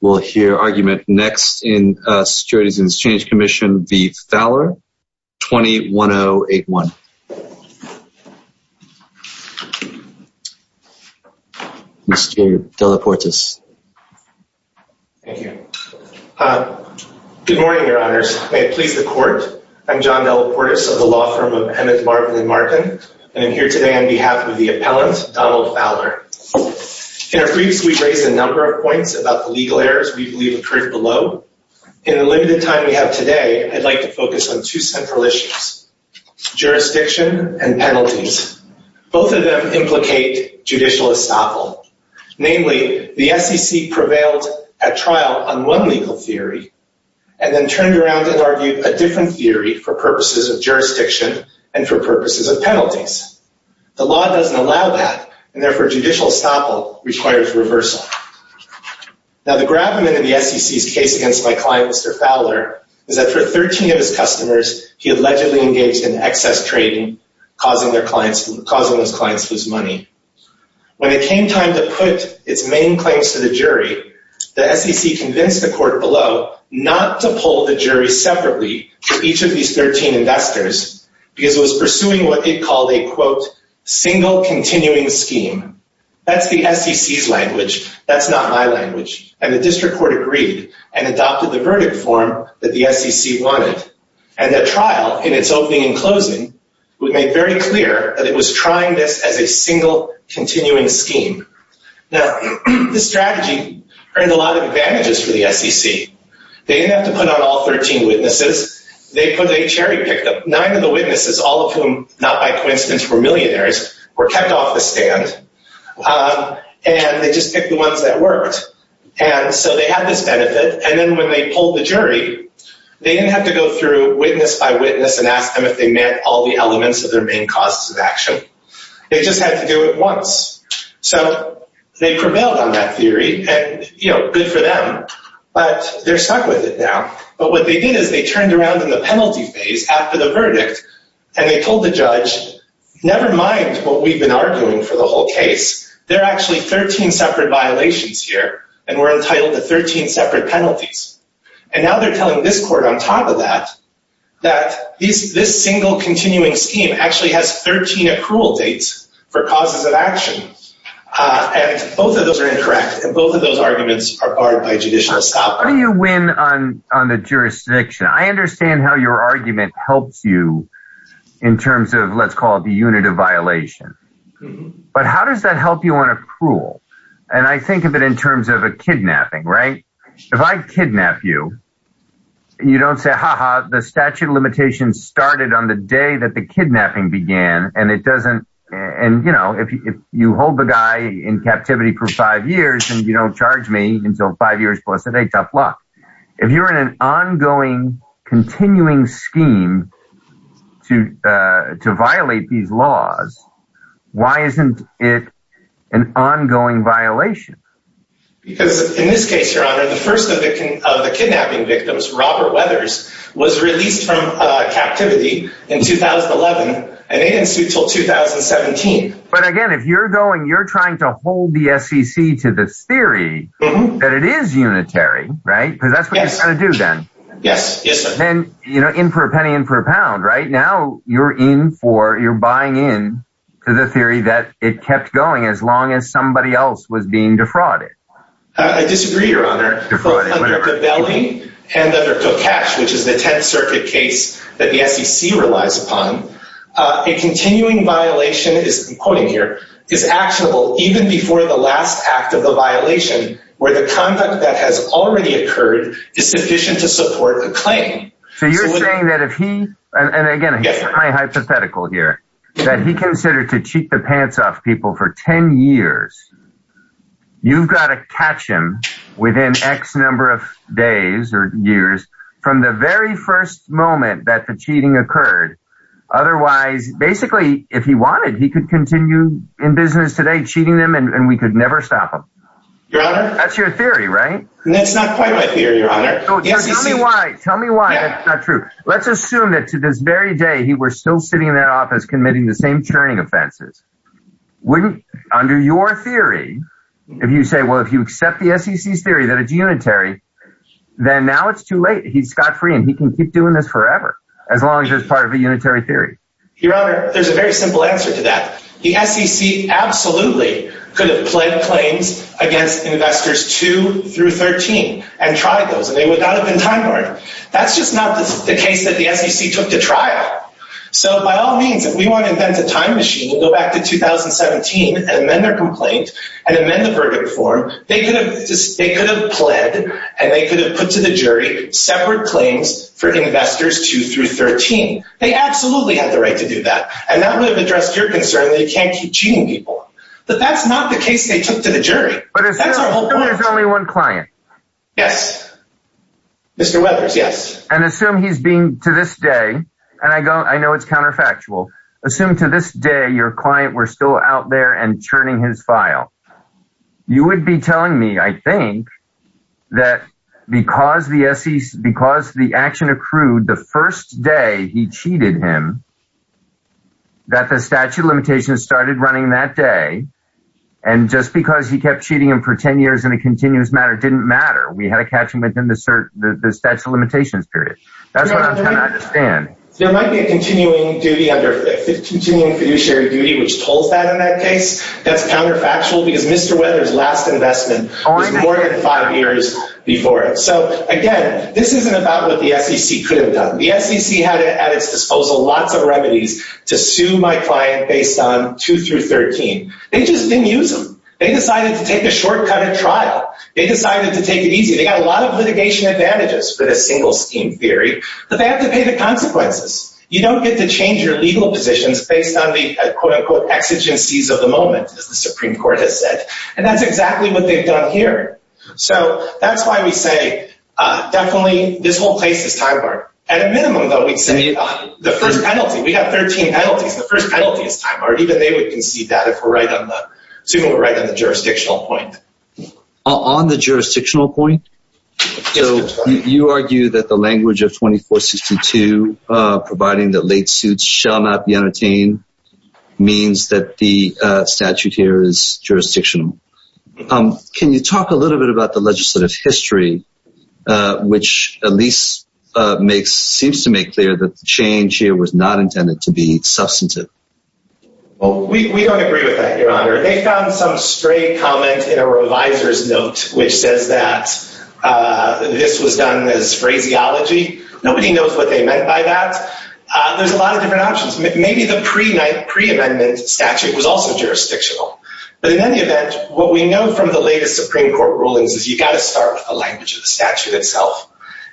We'll hear argument next in Securities and Exchange Commission v. Fowler 21081 Mr. Delaportis Good morning, your honors. May it please the court. I'm John Delaportis of the law firm of Emmett Marvin and Martin And I'm here today on behalf of the appellant Donald Fowler In our briefs, we've raised a number of points about the legal errors we believe occurred below. In the limited time we have today I'd like to focus on two central issues Jurisdiction and penalties. Both of them implicate judicial estoppel namely the SEC prevailed at trial on one legal theory and Then turned around and argued a different theory for purposes of jurisdiction and for purposes of penalties The law doesn't allow that and therefore judicial estoppel requires reversal Now the gravamen in the SEC's case against my client Mr. Fowler is that for 13 of his customers He allegedly engaged in excess trading causing those clients to lose money When it came time to put its main claims to the jury The SEC convinced the court below not to pull the jury separately for each of these 13 investors Because it was pursuing what they called a quote Single continuing scheme. That's the SEC's language that's not my language and the district court agreed and Adopted the verdict form that the SEC wanted and the trial in its opening and closing Would make very clear that it was trying this as a single continuing scheme Now the strategy earned a lot of advantages for the SEC. They didn't have to put on all 13 witnesses They put a cherry pick of nine of the witnesses all of whom not by coincidence were millionaires were kept off the stand And they just picked the ones that worked and so they had this benefit and then when they pulled the jury They didn't have to go through witness by witness and ask them if they met all the elements of their main causes of action They just had to do it once So they prevailed on that theory and you know good for them, but they're stuck with it now But what they did is they turned around in the penalty phase after the verdict and they told the judge Never mind what we've been arguing for the whole case They're actually 13 separate violations here and we're entitled to 13 separate penalties And now they're telling this court on top of that That this single continuing scheme actually has 13 accrual dates for causes of action And both of those are incorrect and both of those arguments are barred by judicial scope Do you win on on the jurisdiction? I understand how your argument helps you in terms of let's call it the unit of violation But how does that help you on a cruel and I think of it in terms of a kidnapping right if I kidnap you You don't say haha The statute of limitations started on the day that the kidnapping began and it doesn't and you know You hold the guy in captivity for five years and you don't charge me until five years plus a day tough luck if you're in an ongoing continuing scheme to to violate these laws Why isn't it an ongoing violation? Because in this case your honor the first of the kidnapping victims Robert Weathers was released from If you're going you're trying to hold the SEC to this theory that it is unitary, right? Yes, and you know in for a penny in for a pound right now You're in for you're buying in to the theory that it kept going as long as somebody else was being defrauded Which is the 10th Circuit case that the SEC relies upon A continuing violation is quoting here is actionable even before the last act of the violation Where the conduct that has already occurred is sufficient to support the claim So you're saying that if he and again, yes my hypothetical here that he considered to cheat the pants off people for 10 years You've got to catch him within X number of days or years From the very first moment that the cheating occurred Otherwise basically if he wanted he could continue in business today cheating them and we could never stop him That's your theory, right? Tell me why that's not true. Let's assume that to this very day. He were still sitting in that office committing the same churning offenses Wouldn't under your theory if you say well if you accept the SEC's theory that it's unitary Then now it's too late he's got free and he can keep doing this forever as long as there's part of a unitary theory Your honor. There's a very simple answer to that the SEC Absolutely could have pled claims against investors 2 through 13 and tried those and they would not have been time-borne That's just not the case that the SEC took to trial So by all means if we want to invent a time machine and go back to 2017 and then their complaint and amend the verdict They could have just they could have pled and they could have put to the jury separate claims for investors 2 through 13 They absolutely have the right to do that and that would have addressed your concern They can't keep cheating people, but that's not the case. They took to the jury, but it's only one client. Yes Mr. Webbers, yes, and assume he's being to this day and I go I know it's counterfactual Assume to this day your client were still out there and churning his file You would be telling me I think That because the SEC because the action accrued the first day he cheated him that the statute of limitations started running that day and Just because he kept cheating him for 10 years in a continuous matter didn't matter We had a catchment in the search the statute of limitations period And there might be a continuing duty under 50 continuing fiduciary duty which told that in that case that's counterfactual because mr Weathers last investment or more than five years before it So again, this isn't about what the SEC could have done The SEC had it at its disposal lots of remedies to sue my client based on 2 through 13 They just didn't use them. They decided to take a shortcut at trial. They decided to take it easy They got a lot of litigation advantages for the single scheme theory, but they have to pay the consequences You don't get to change your legal positions based on the quote-unquote Exigencies of the moment as the Supreme Court has said and that's exactly what they've done here. So that's why we say Definitely this whole place is time bar at a minimum though. We'd say the first penalty We have 13 penalties the first penalty is time or even they would concede that if we're right on the Super right on the jurisdictional point On the jurisdictional point So you argue that the language of 2462? Providing that late suits shall not be entertained Means that the statute here is jurisdictional Can you talk a little bit about the legislative history? which at least Makes seems to make clear that the change here was not intended to be substantive Well, we don't agree with that your honor they found some stray comment in a revisor's note which says that This was done as phraseology. Nobody knows what they meant by that There's a lot of different options. Maybe the pre night preamendment statute was also jurisdictional But in any event what we know from the latest Supreme Court rulings is you got to start a language of the statute itself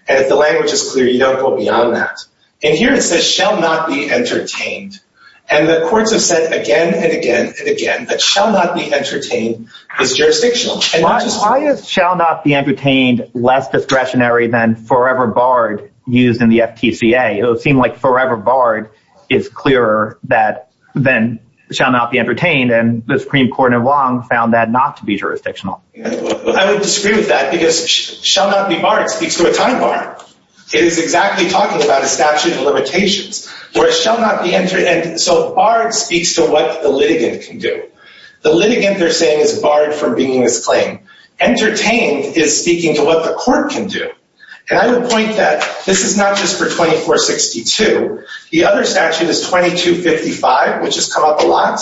And if the language is clear, you don't go beyond that and here it says shall not be entertained And the courts have said again and again and again that shall not be entertained is jurisdictional Why is shall not be entertained less discretionary than forever barred used in the FTCA? It'll seem like forever barred is clearer that Then shall not be entertained and the Supreme Court and long found that not to be jurisdictional I would disagree with that because shall not be barred speaks to a time bar It is exactly talking about a statute of limitations Where it shall not be entered and so barred speaks to what the litigant can do the litigant They're saying is barred from being this claim Entertained is speaking to what the court can do and I would point that this is not just for 2462 The other statute is 2255 which has come up a lot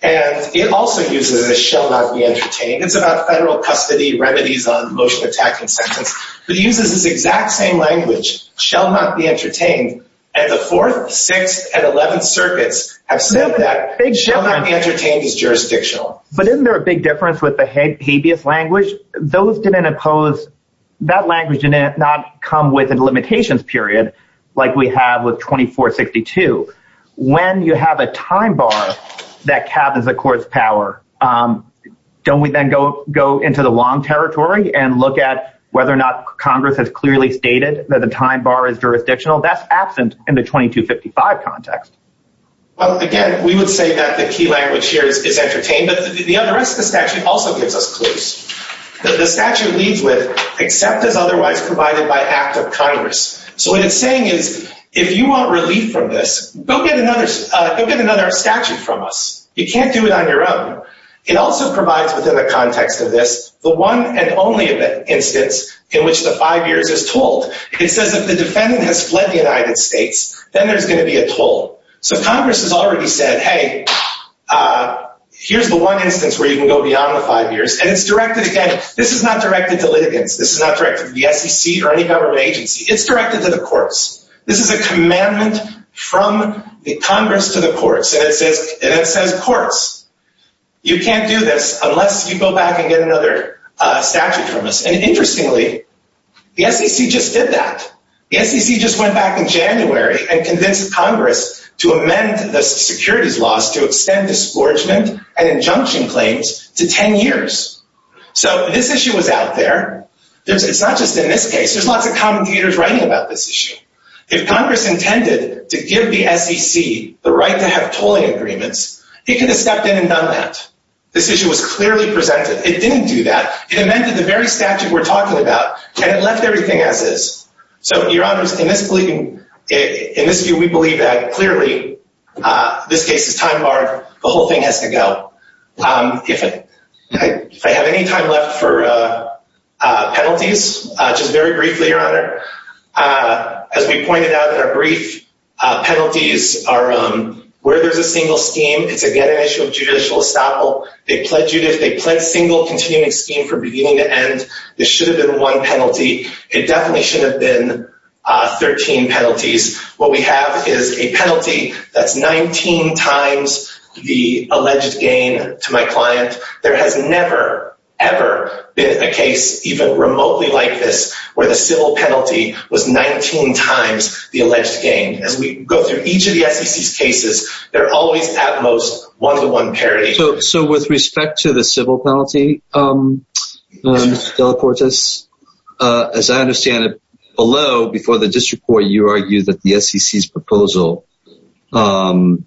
and it also uses a shall not be entertained It's about federal custody remedies on motion attacking sentence, but it uses this exact same language Shall not be entertained and the fourth sixth and eleventh circuits have said that It shall not be entertained is jurisdictional, but isn't there a big difference with the habeas language those didn't impose That language in it not come with a limitations period like we have with 2462 When you have a time bar that cabins the court's power Don't we then go go into the long territory and look at whether or not Congress has clearly stated that the time bar is Jurisdictional that's absent in the 2255 context Well again, we would say that the key language here is entertained But the other rest of the statute also gives us clues that the statute leads with except as otherwise provided by act of Congress So what it's saying is if you want relief from this go get another go get another statute from us You can't do it on your own It also provides within the context of this the one and only event instance in which the five years is told It says if the defendant has fled the United States, then there's going to be a toll. So Congress has already said hey Here's the one instance where you can go beyond the five years and it's directed again. This is not directed to litigants This is not directed the SEC or any government agency. It's directed to the courts This is a commandment from the Congress to the courts and it says and it says courts You can't do this unless you go back and get another statute from us and interestingly The SEC just did that Yes He just went back in January and convinced Congress to amend the securities laws to extend Dispatchment and injunction claims to ten years So this issue was out there There's it's not just in this case. There's lots of commentators writing about this issue If Congress intended to give the SEC the right to have tolling agreements, it could have stepped in and done that This issue was clearly presented. It didn't do that. It amended the very statute we're talking about and it left everything as is So your honors in this plea In this view, we believe that clearly This case is time-barred. The whole thing has to go if it if I have any time left for Penalties just very briefly your honor As we pointed out in our brief Penalties are where there's a single scheme. It's again an issue of judicial estoppel They pledged you to if they pledged single continuing scheme for beginning to end. This should have been one penalty. It definitely should have been 13 penalties what we have is a penalty. That's 19 times The alleged gain to my client there has never ever Been a case even remotely like this where the civil penalty was 19 times the alleged gain as we go through each Of the SEC's cases. They're always at most one-to-one parity. So with respect to the civil penalty Delacortes as I understand it below before the district court you argue that the SEC's proposal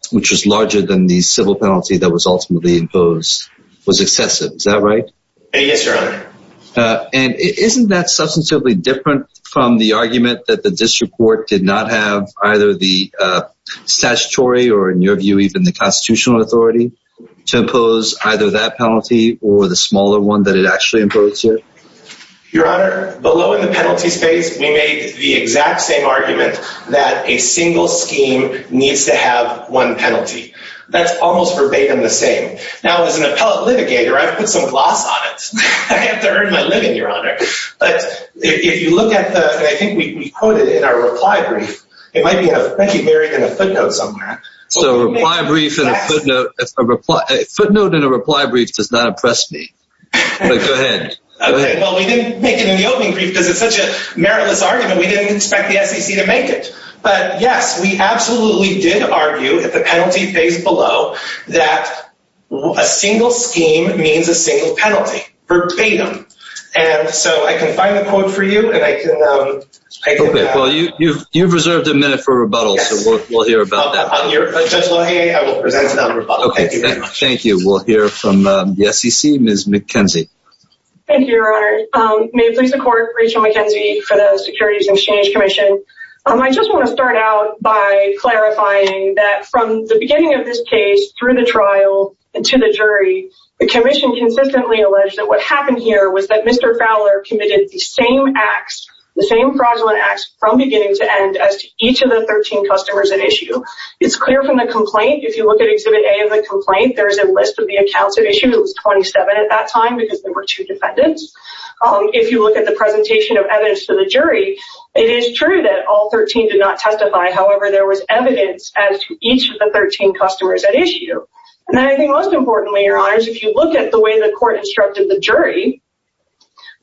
Which was larger than the civil penalty that was ultimately imposed was excessive. Is that right? Yes, your honor and isn't that substantively different from the argument that the district court did not have either the statutory or in your view even the constitutional authority to impose either that penalty or the smaller one that it actually imposes Your honor below in the penalty space We made the exact same argument that a single scheme needs to have one penalty That's almost verbatim the same now as an appellate litigator, I've put some gloss on it But if you look at the I think we quoted in our reply brief It might be a thank you very good a footnote somewhere So reply brief and a footnote a reply a footnote in a reply brief does not impress me Go ahead Because it's such a meritless argument we didn't expect the SEC to make it but yes we absolutely did argue at the penalty face below that a single scheme means a single penalty verbatim and so I can find a quote for you and I can Well, you've you've reserved a minute for rebuttal. So we'll hear about that Thank you, we'll hear from the SEC Ms. McKenzie Thank you, your honor. May it please the court Rachel McKenzie for the Securities and Exchange Commission I just want to start out by Clarifying that from the beginning of this case through the trial and to the jury the Commission consistently alleged that what happened here Was that mr Fowler committed the same acts the same fraudulent acts from beginning to end as to each of the 13 customers at issue It's clear from the complaint. If you look at exhibit a of the complaint There's a list of the accounts of issues 27 at that time because there were two defendants If you look at the presentation of evidence to the jury, it is true that all 13 did not testify However, there was evidence as to each of the 13 customers at issue And then I think most importantly your honors if you look at the way the court instructed the jury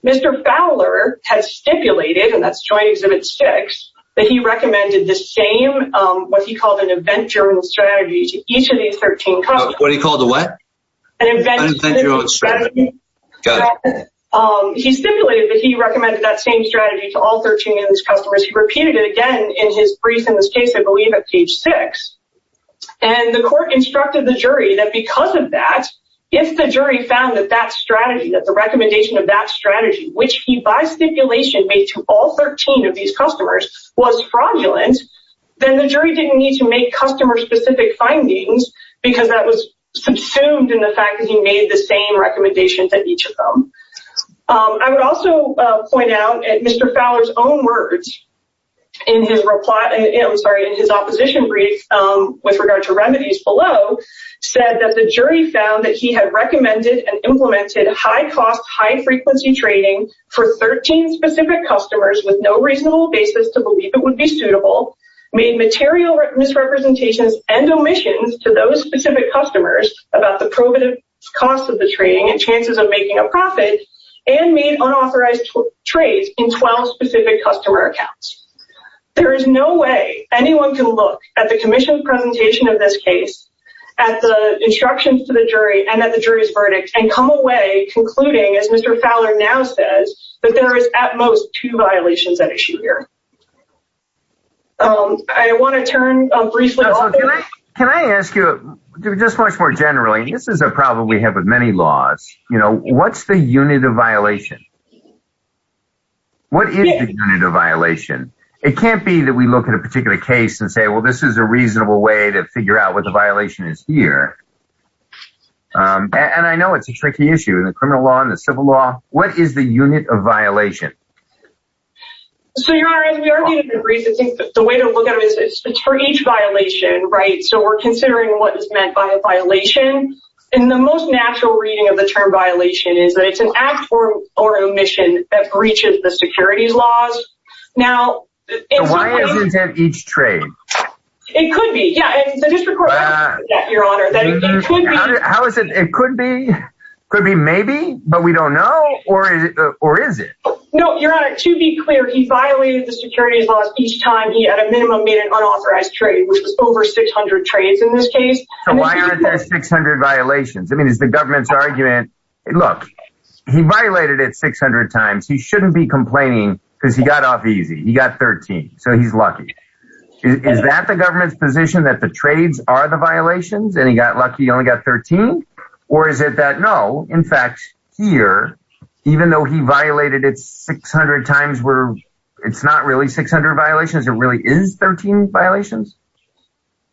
Mr. Fowler has stipulated and that's joint exhibit six that he recommended the same What he called an event journal strategy to each of these 13. What do you call the what? Thank you He stipulated that he recommended that same strategy to all 13 of these customers he repeated it again in his brief in this case I believe at page 6 and the court instructed the jury that because of that if the jury found that that strategy that the recommendation of that strategy which he by Stipulation made to all 13 of these customers was fraudulent Then the jury didn't need to make customer specific findings because that was subsumed in the fact that he made the same recommendations at each of them I would also point out at mr. Fowler's own words in His reply and I'm sorry in his opposition brief with regard to remedies below Said that the jury found that he had recommended and implemented high-cost high-frequency Trading for 13 specific customers with no reasonable basis to believe it would be suitable made material misrepresentations and omissions to those specific customers about the probative cost of the trading and chances of making a profit and made unauthorized trades in 12 specific customer accounts There is no way anyone can look at the Commission's presentation of this case at the Instructions to the jury and that the jury's verdict and come away concluding as mr. Fowler now says that there is at most two violations that issue here I want to turn Can I ask you just much more generally this is a problem we have with many laws, you know, what's the unit of violation? What is the unit of violation it can't be that we look at a particular case and say well This is a reasonable way to figure out what the violation is here And I know it's a tricky issue in the criminal law in the civil law. What is the unit of violation? So you are in your reason think that the way to look at it is for each violation, right? So we're considering what is meant by a violation in the most natural reading of the term Violation is that it's an act for or omission that breaches the securities laws now Why isn't that each trade? It could be yeah Your honor How is it? It could be could be maybe but we don't know or is it or is it no your honor to be clear He violated the securities laws each time. He had a minimum in an unauthorized trade which was over 600 trades in this case So why aren't there 600 violations? I mean is the government's argument it look he violated it 600 times He shouldn't be complaining because he got off easy. He got 13, so he's lucky Is that the government's position that the trades are the violations and he got lucky you only got 13 or is it that no in fact Here, even though he violated. It's 600 times. We're it's not really 600 violations. It really is 13 violations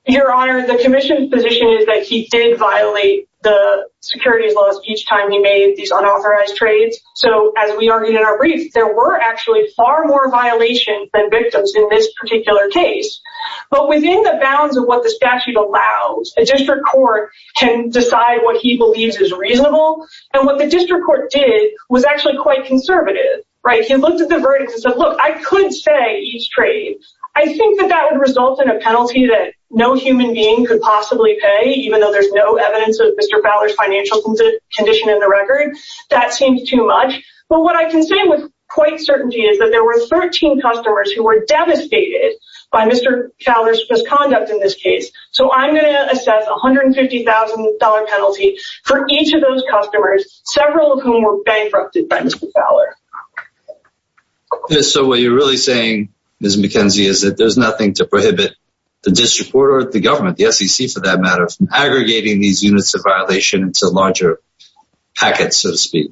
Your honor the Commission's position is that he did violate the securities laws each time He made these unauthorized trades So as we argued in our brief, there were actually far more violations than victims in this particular case But within the bounds of what the statute allows a district court can decide what he believes is reasonable And what the district court did was actually quite conservative, right? He looked at the verdicts and said look I couldn't say each trade I think that that would result in a penalty that no human being could possibly pay even though there's no evidence of mr Fowler's financial condition in the record that seems too much But what I can say with quite certainty is that there were 13 customers who were devastated by mr Fowler's misconduct in this case, so I'm going to assess a hundred and fifty thousand dollar penalty for each of those customers Several of whom were bankrupted by mr. Fowler So what you're really saying is McKenzie is that there's nothing to prohibit the district court or at the government Yes, you see for that matter aggregating these units of violation. It's a larger packet so to speak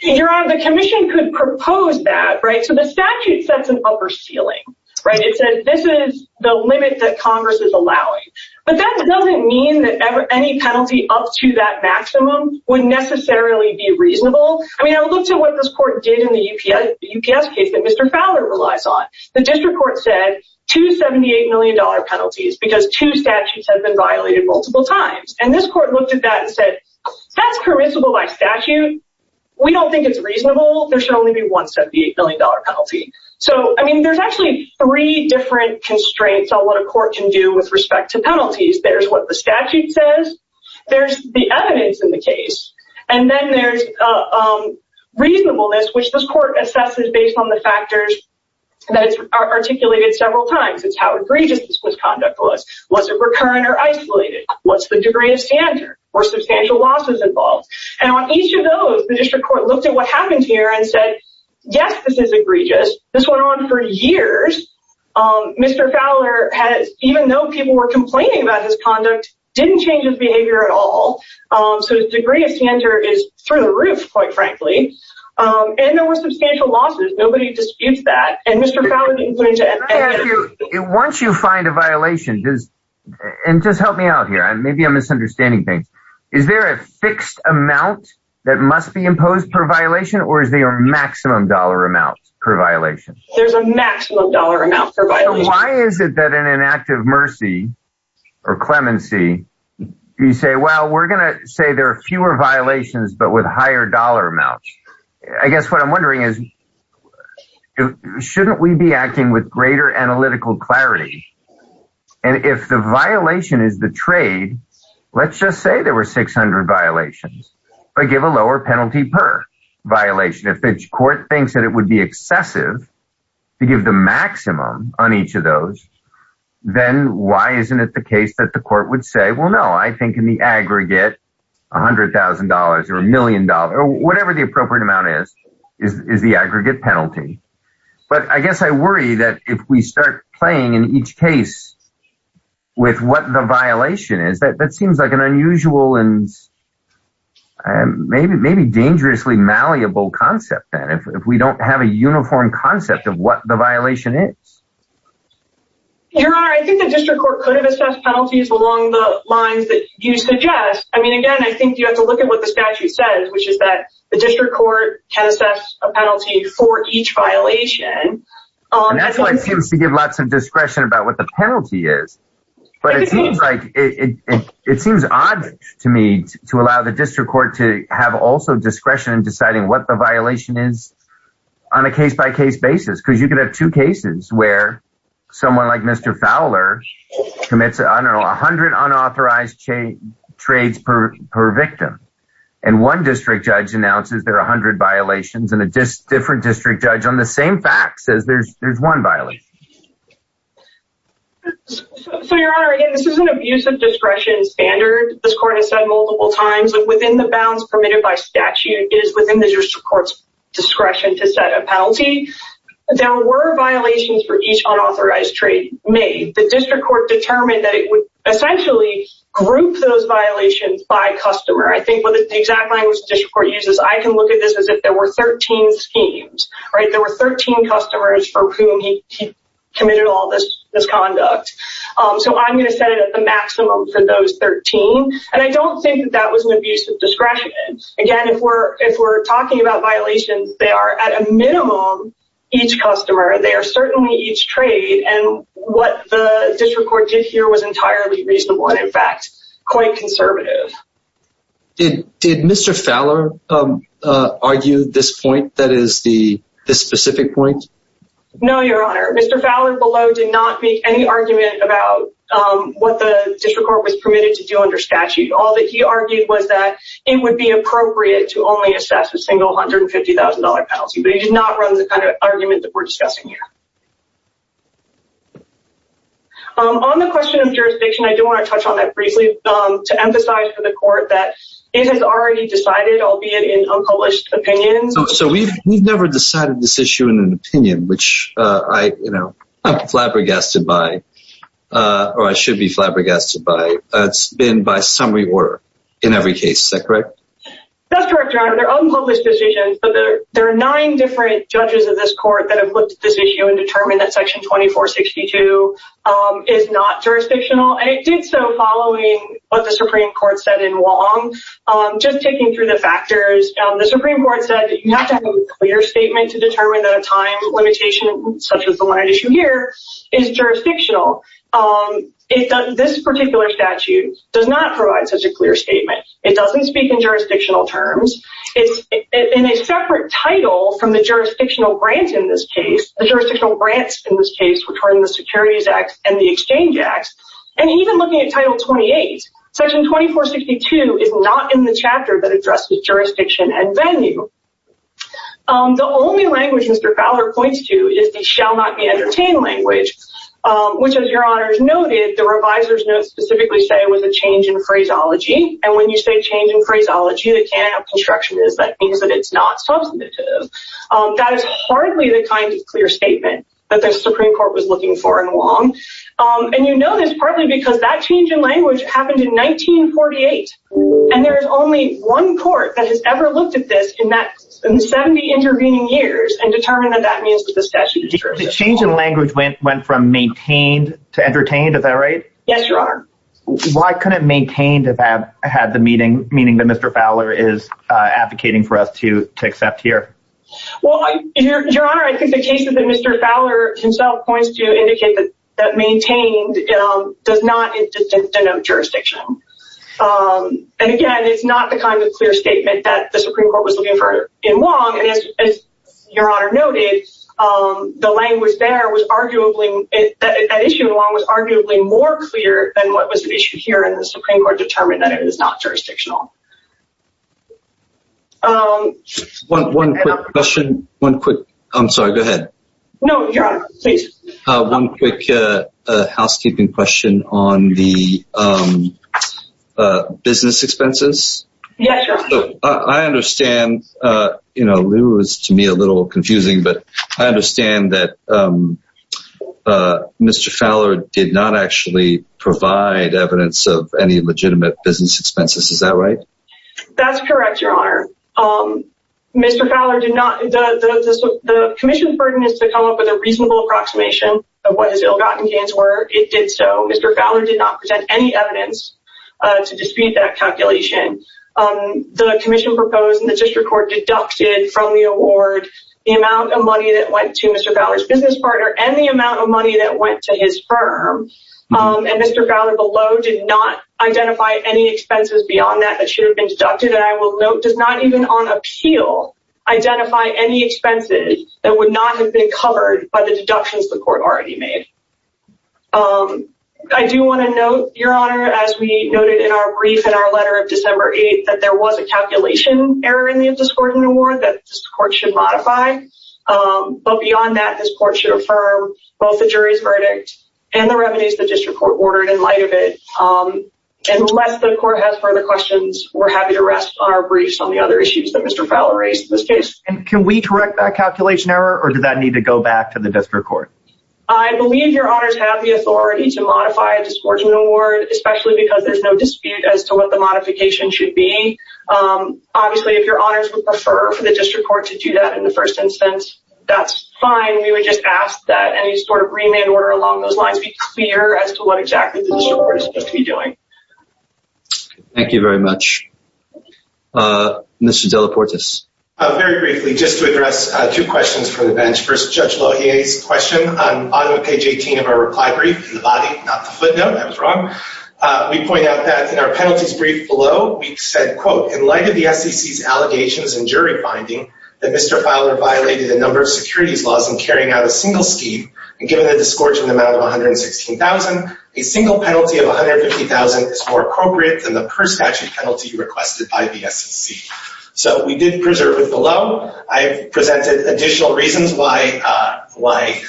Your honor the Commission could propose that right? So the statute sets an upper ceiling, right? It says this is the limit that Congress is allowing but that doesn't mean that ever any penalty up to that Maximum would necessarily be reasonable. I mean, I looked at what this court did in the UPS UPS case that mr Fowler relies on. The district court said 278 million dollar penalties because two statutes have been violated multiple times and this court looked at that and said that's permissible by statute We don't think it's reasonable. There should only be one 78 million dollar penalty So, I mean, there's actually three different constraints on what a court can do with respect to penalties. There's what the statute says there's the evidence in the case and then there's a Court assesses based on the factors That it's articulated several times. It's how egregious this misconduct was. Was it recurrent or isolated? What's the degree of standard or substantial losses involved and on each of those the district court looked at what happened here and said? Yes, this is egregious this went on for years Mr. Fowler has even though people were complaining about his conduct didn't change his behavior at all So the degree of standard is through the roof quite frankly And there were substantial losses nobody disputes that and mr. Fowler Once you find a violation does and just help me out here and maybe I'm misunderstanding things Is there a fixed amount that must be imposed per violation or is there a maximum dollar amount per violation? There's a maximum dollar amount. Why is it that in an act of mercy or clemency You say well, we're gonna say there are fewer violations but with higher dollar amounts, I guess what I'm wondering is Shouldn't we be acting with greater analytical clarity and If the violation is the trade Let's just say there were 600 violations, but give a lower penalty per Violation if the court thinks that it would be excessive to give the maximum on each of those Then why isn't it the case that the court would say well, no, I think in the aggregate $100,000 or a million dollar or whatever. The appropriate amount is is the aggregate penalty? But I guess I worry that if we start playing in each case with what the violation is that that seems like an unusual and Maybe maybe dangerously malleable concept then if we don't have a uniform concept of what the violation is Your honor, I think the district court could have assessed penalties along the lines that you suggest I mean again, I think you have to look at what the statute says Which is that the district court can assess a penalty for each violation? That's why it seems to give lots of discretion about what the penalty is But it seems like it It seems odd to me to allow the district court to have also discretion in deciding what the violation is on a case-by-case basis because you could have two cases where Someone like mr. Fowler commits, I don't know a hundred unauthorized chain trades per per victim and One district judge announces there are a hundred violations and a just different district judge on the same facts as there's there's one violence So your honor again, this is an abuse of discretion Standard this court has said multiple times within the bounds permitted by statute is within the district courts discretion to set a penalty There were violations for each unauthorized trade made the district court determined that it would essentially Group those violations by customer. I think what the exact language district court uses I can look at this as if there were 13 schemes, right? There were 13 customers for whom he Committed all this misconduct So I'm going to set it at the maximum for those 13 and I don't think that that was an abuse of discretion Again if we're if we're talking about violations, they are at a minimum each customer They are certainly each trade and what the district court did here was entirely reasonable and in fact quite conservative Did did mr. Fowler? Argued this point. That is the specific point. No, your honor. Mr. Fowler below did not make any argument about What the district court was permitted to do under statute all that he argued was that it would be appropriate to only assess a Single hundred and fifty thousand dollar penalty, but he did not run the kind of argument that we're discussing here On the question of jurisdiction I do want to touch on that briefly to emphasize for the court that it has already decided albeit in unpublished opinions So we've never decided this issue in an opinion, which I you know, I'm flabbergasted by Or I should be flabbergasted by it's been by some reward in every case that correct There are nine different judges of this court that have looked at this issue and determined that section 2462 Is not jurisdictional and it did so following what the Supreme Court said in Wong Just taking through the factors The Supreme Court said you have to have a clear statement to determine that a time limitation such as the line issue here is jurisdictional If this particular statute does not provide such a clear statement, it doesn't speak in jurisdictional terms It's in a separate title from the jurisdictional grant in this case the jurisdictional grants in this case Which are in the Securities Act and the Exchange Act and even looking at title 28 Section 2462 is not in the chapter that addresses jurisdiction and venue The only language Mr. Fowler points to is the shall not be entertained language Which as your honors noted the revisers note specifically say it was a change in phraseology And when you say change in phraseology the can of construction is that means that it's not substantive That is hardly the kind of clear statement that the Supreme Court was looking for in Wong And you know this partly because that change in language happened in 1948 and there is only one court that has ever looked at this in that 70 intervening years and determined that that means that the statute The change in language went from maintained to entertained at that rate. Yes, your honor Why couldn't maintained if I've had the meeting meaning that Mr. Fowler is Advocating for us to to accept here Well your honor I think the cases that Mr. Fowler himself points to indicate that that maintained Does not denote jurisdictional And again, it's not the kind of clear statement that the Supreme Court was looking for in Wong and as your honor noted The language there was arguably That issue along was arguably more clear than what was the issue here and the Supreme Court determined that it is not jurisdictional One question one quick, I'm sorry go ahead. No, your honor, please one quick housekeeping question on the Business expenses. Yeah, I understand, you know Lou is to me a little confusing, but I understand that Mr. Fowler did not actually provide evidence of any legitimate business expenses. Is that right? That's correct. Your honor Mr. Fowler did not Commission burden is to come up with a reasonable approximation of what his ill-gotten gains were it did so mr Fowler did not present any evidence to dispute that calculation The Commission proposed in the district court deducted from the award the amount of money that went to mr Fowler's business partner and the amount of money that went to his firm And mr. Fowler below did not identify any expenses beyond that that should have been deducted and I will note does not even on appeal Identify any expenses that would not have been covered by the deductions the court already made I do want to know your honor as we noted in our brief in our letter of December 8th that there was a calculation error in the discordant award that this court should modify But beyond that this court should affirm both the jury's verdict and the revenues the district court ordered in light of it And unless the court has further questions, we're happy to rest on our briefs on the other issues that mr Fowler raised in this case and can we correct that calculation error or do that need to go back to the district court? I believe your honors have the authority to modify a disborder award, especially because there's no dispute as to what the modification should be Obviously if your honors would prefer for the district court to do that in the first instance, that's fine We would just ask that any sort of remand order along those lines be clear as to what exactly the disorder is going to be doing Thank you very much Mr. Delaportes Very briefly just to address two questions for the bench first judge Well, he is question on page 18 of our reply brief the body not the footnote. I was wrong We point out that in our penalties brief below We said quote in light of the SEC's allegations and jury finding that mr Fowler violated a number of securities laws and carrying out a single scheme and given a discordant amount of 116,000 a single penalty of 150,000 is more appropriate than the per statute penalty requested by the SEC So we didn't preserve it below I have presented additional reasons why Why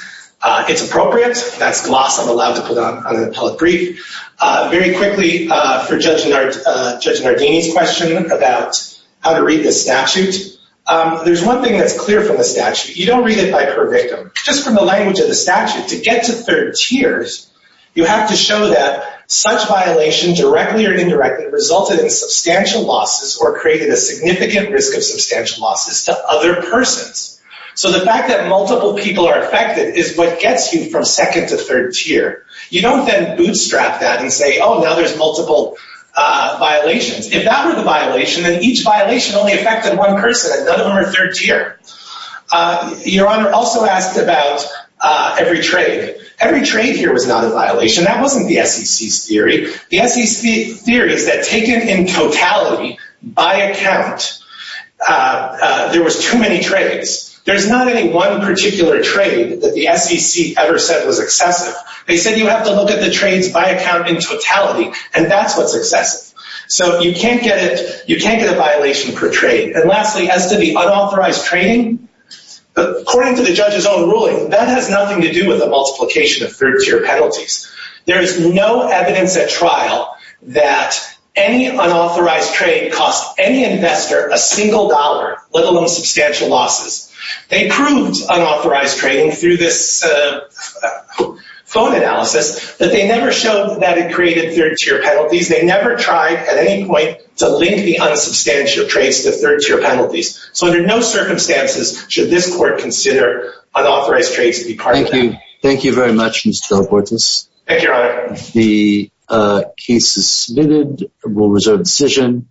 it's appropriate that's gloss. I'm allowed to put on an appellate brief Very quickly for judge Nardini's question about how to read the statute There's one thing that's clear from the statute You don't read it by per victim just from the language of the statute to get to third tiers You have to show that such violation directly or indirectly Resulted in substantial losses or created a significant risk of substantial losses to other persons So the fact that multiple people are affected is what gets you from second to third tier You don't then bootstrap that and say oh now there's multiple Violations if that were the violation then each violation only affected one person and none of them are third tier Your honor also asked about Every trade. Every trade here was not a violation that wasn't the SEC's theory. The SEC's theory is that taken in totality by account There was too many trades. There's not any one particular trade that the SEC ever said was excessive They said you have to look at the trades by account in totality and that's what's excessive So you can't get it. You can't get a violation per trade and lastly as to the unauthorized training According to the judge's own ruling that has nothing to do with the multiplication of third tier penalties There is no evidence at trial that Any unauthorized trade cost any investor a single dollar let alone substantial losses They proved unauthorized training through this Phone analysis that they never showed that it created third tier penalties They never tried at any point to link the unsubstantial trades to third tier penalties So under no circumstances should this court consider unauthorized trades to be part of that. Thank you. Thank you very much. Mr. Del Portis. Thank you, your honor. The case is submitted. We'll reserve decision.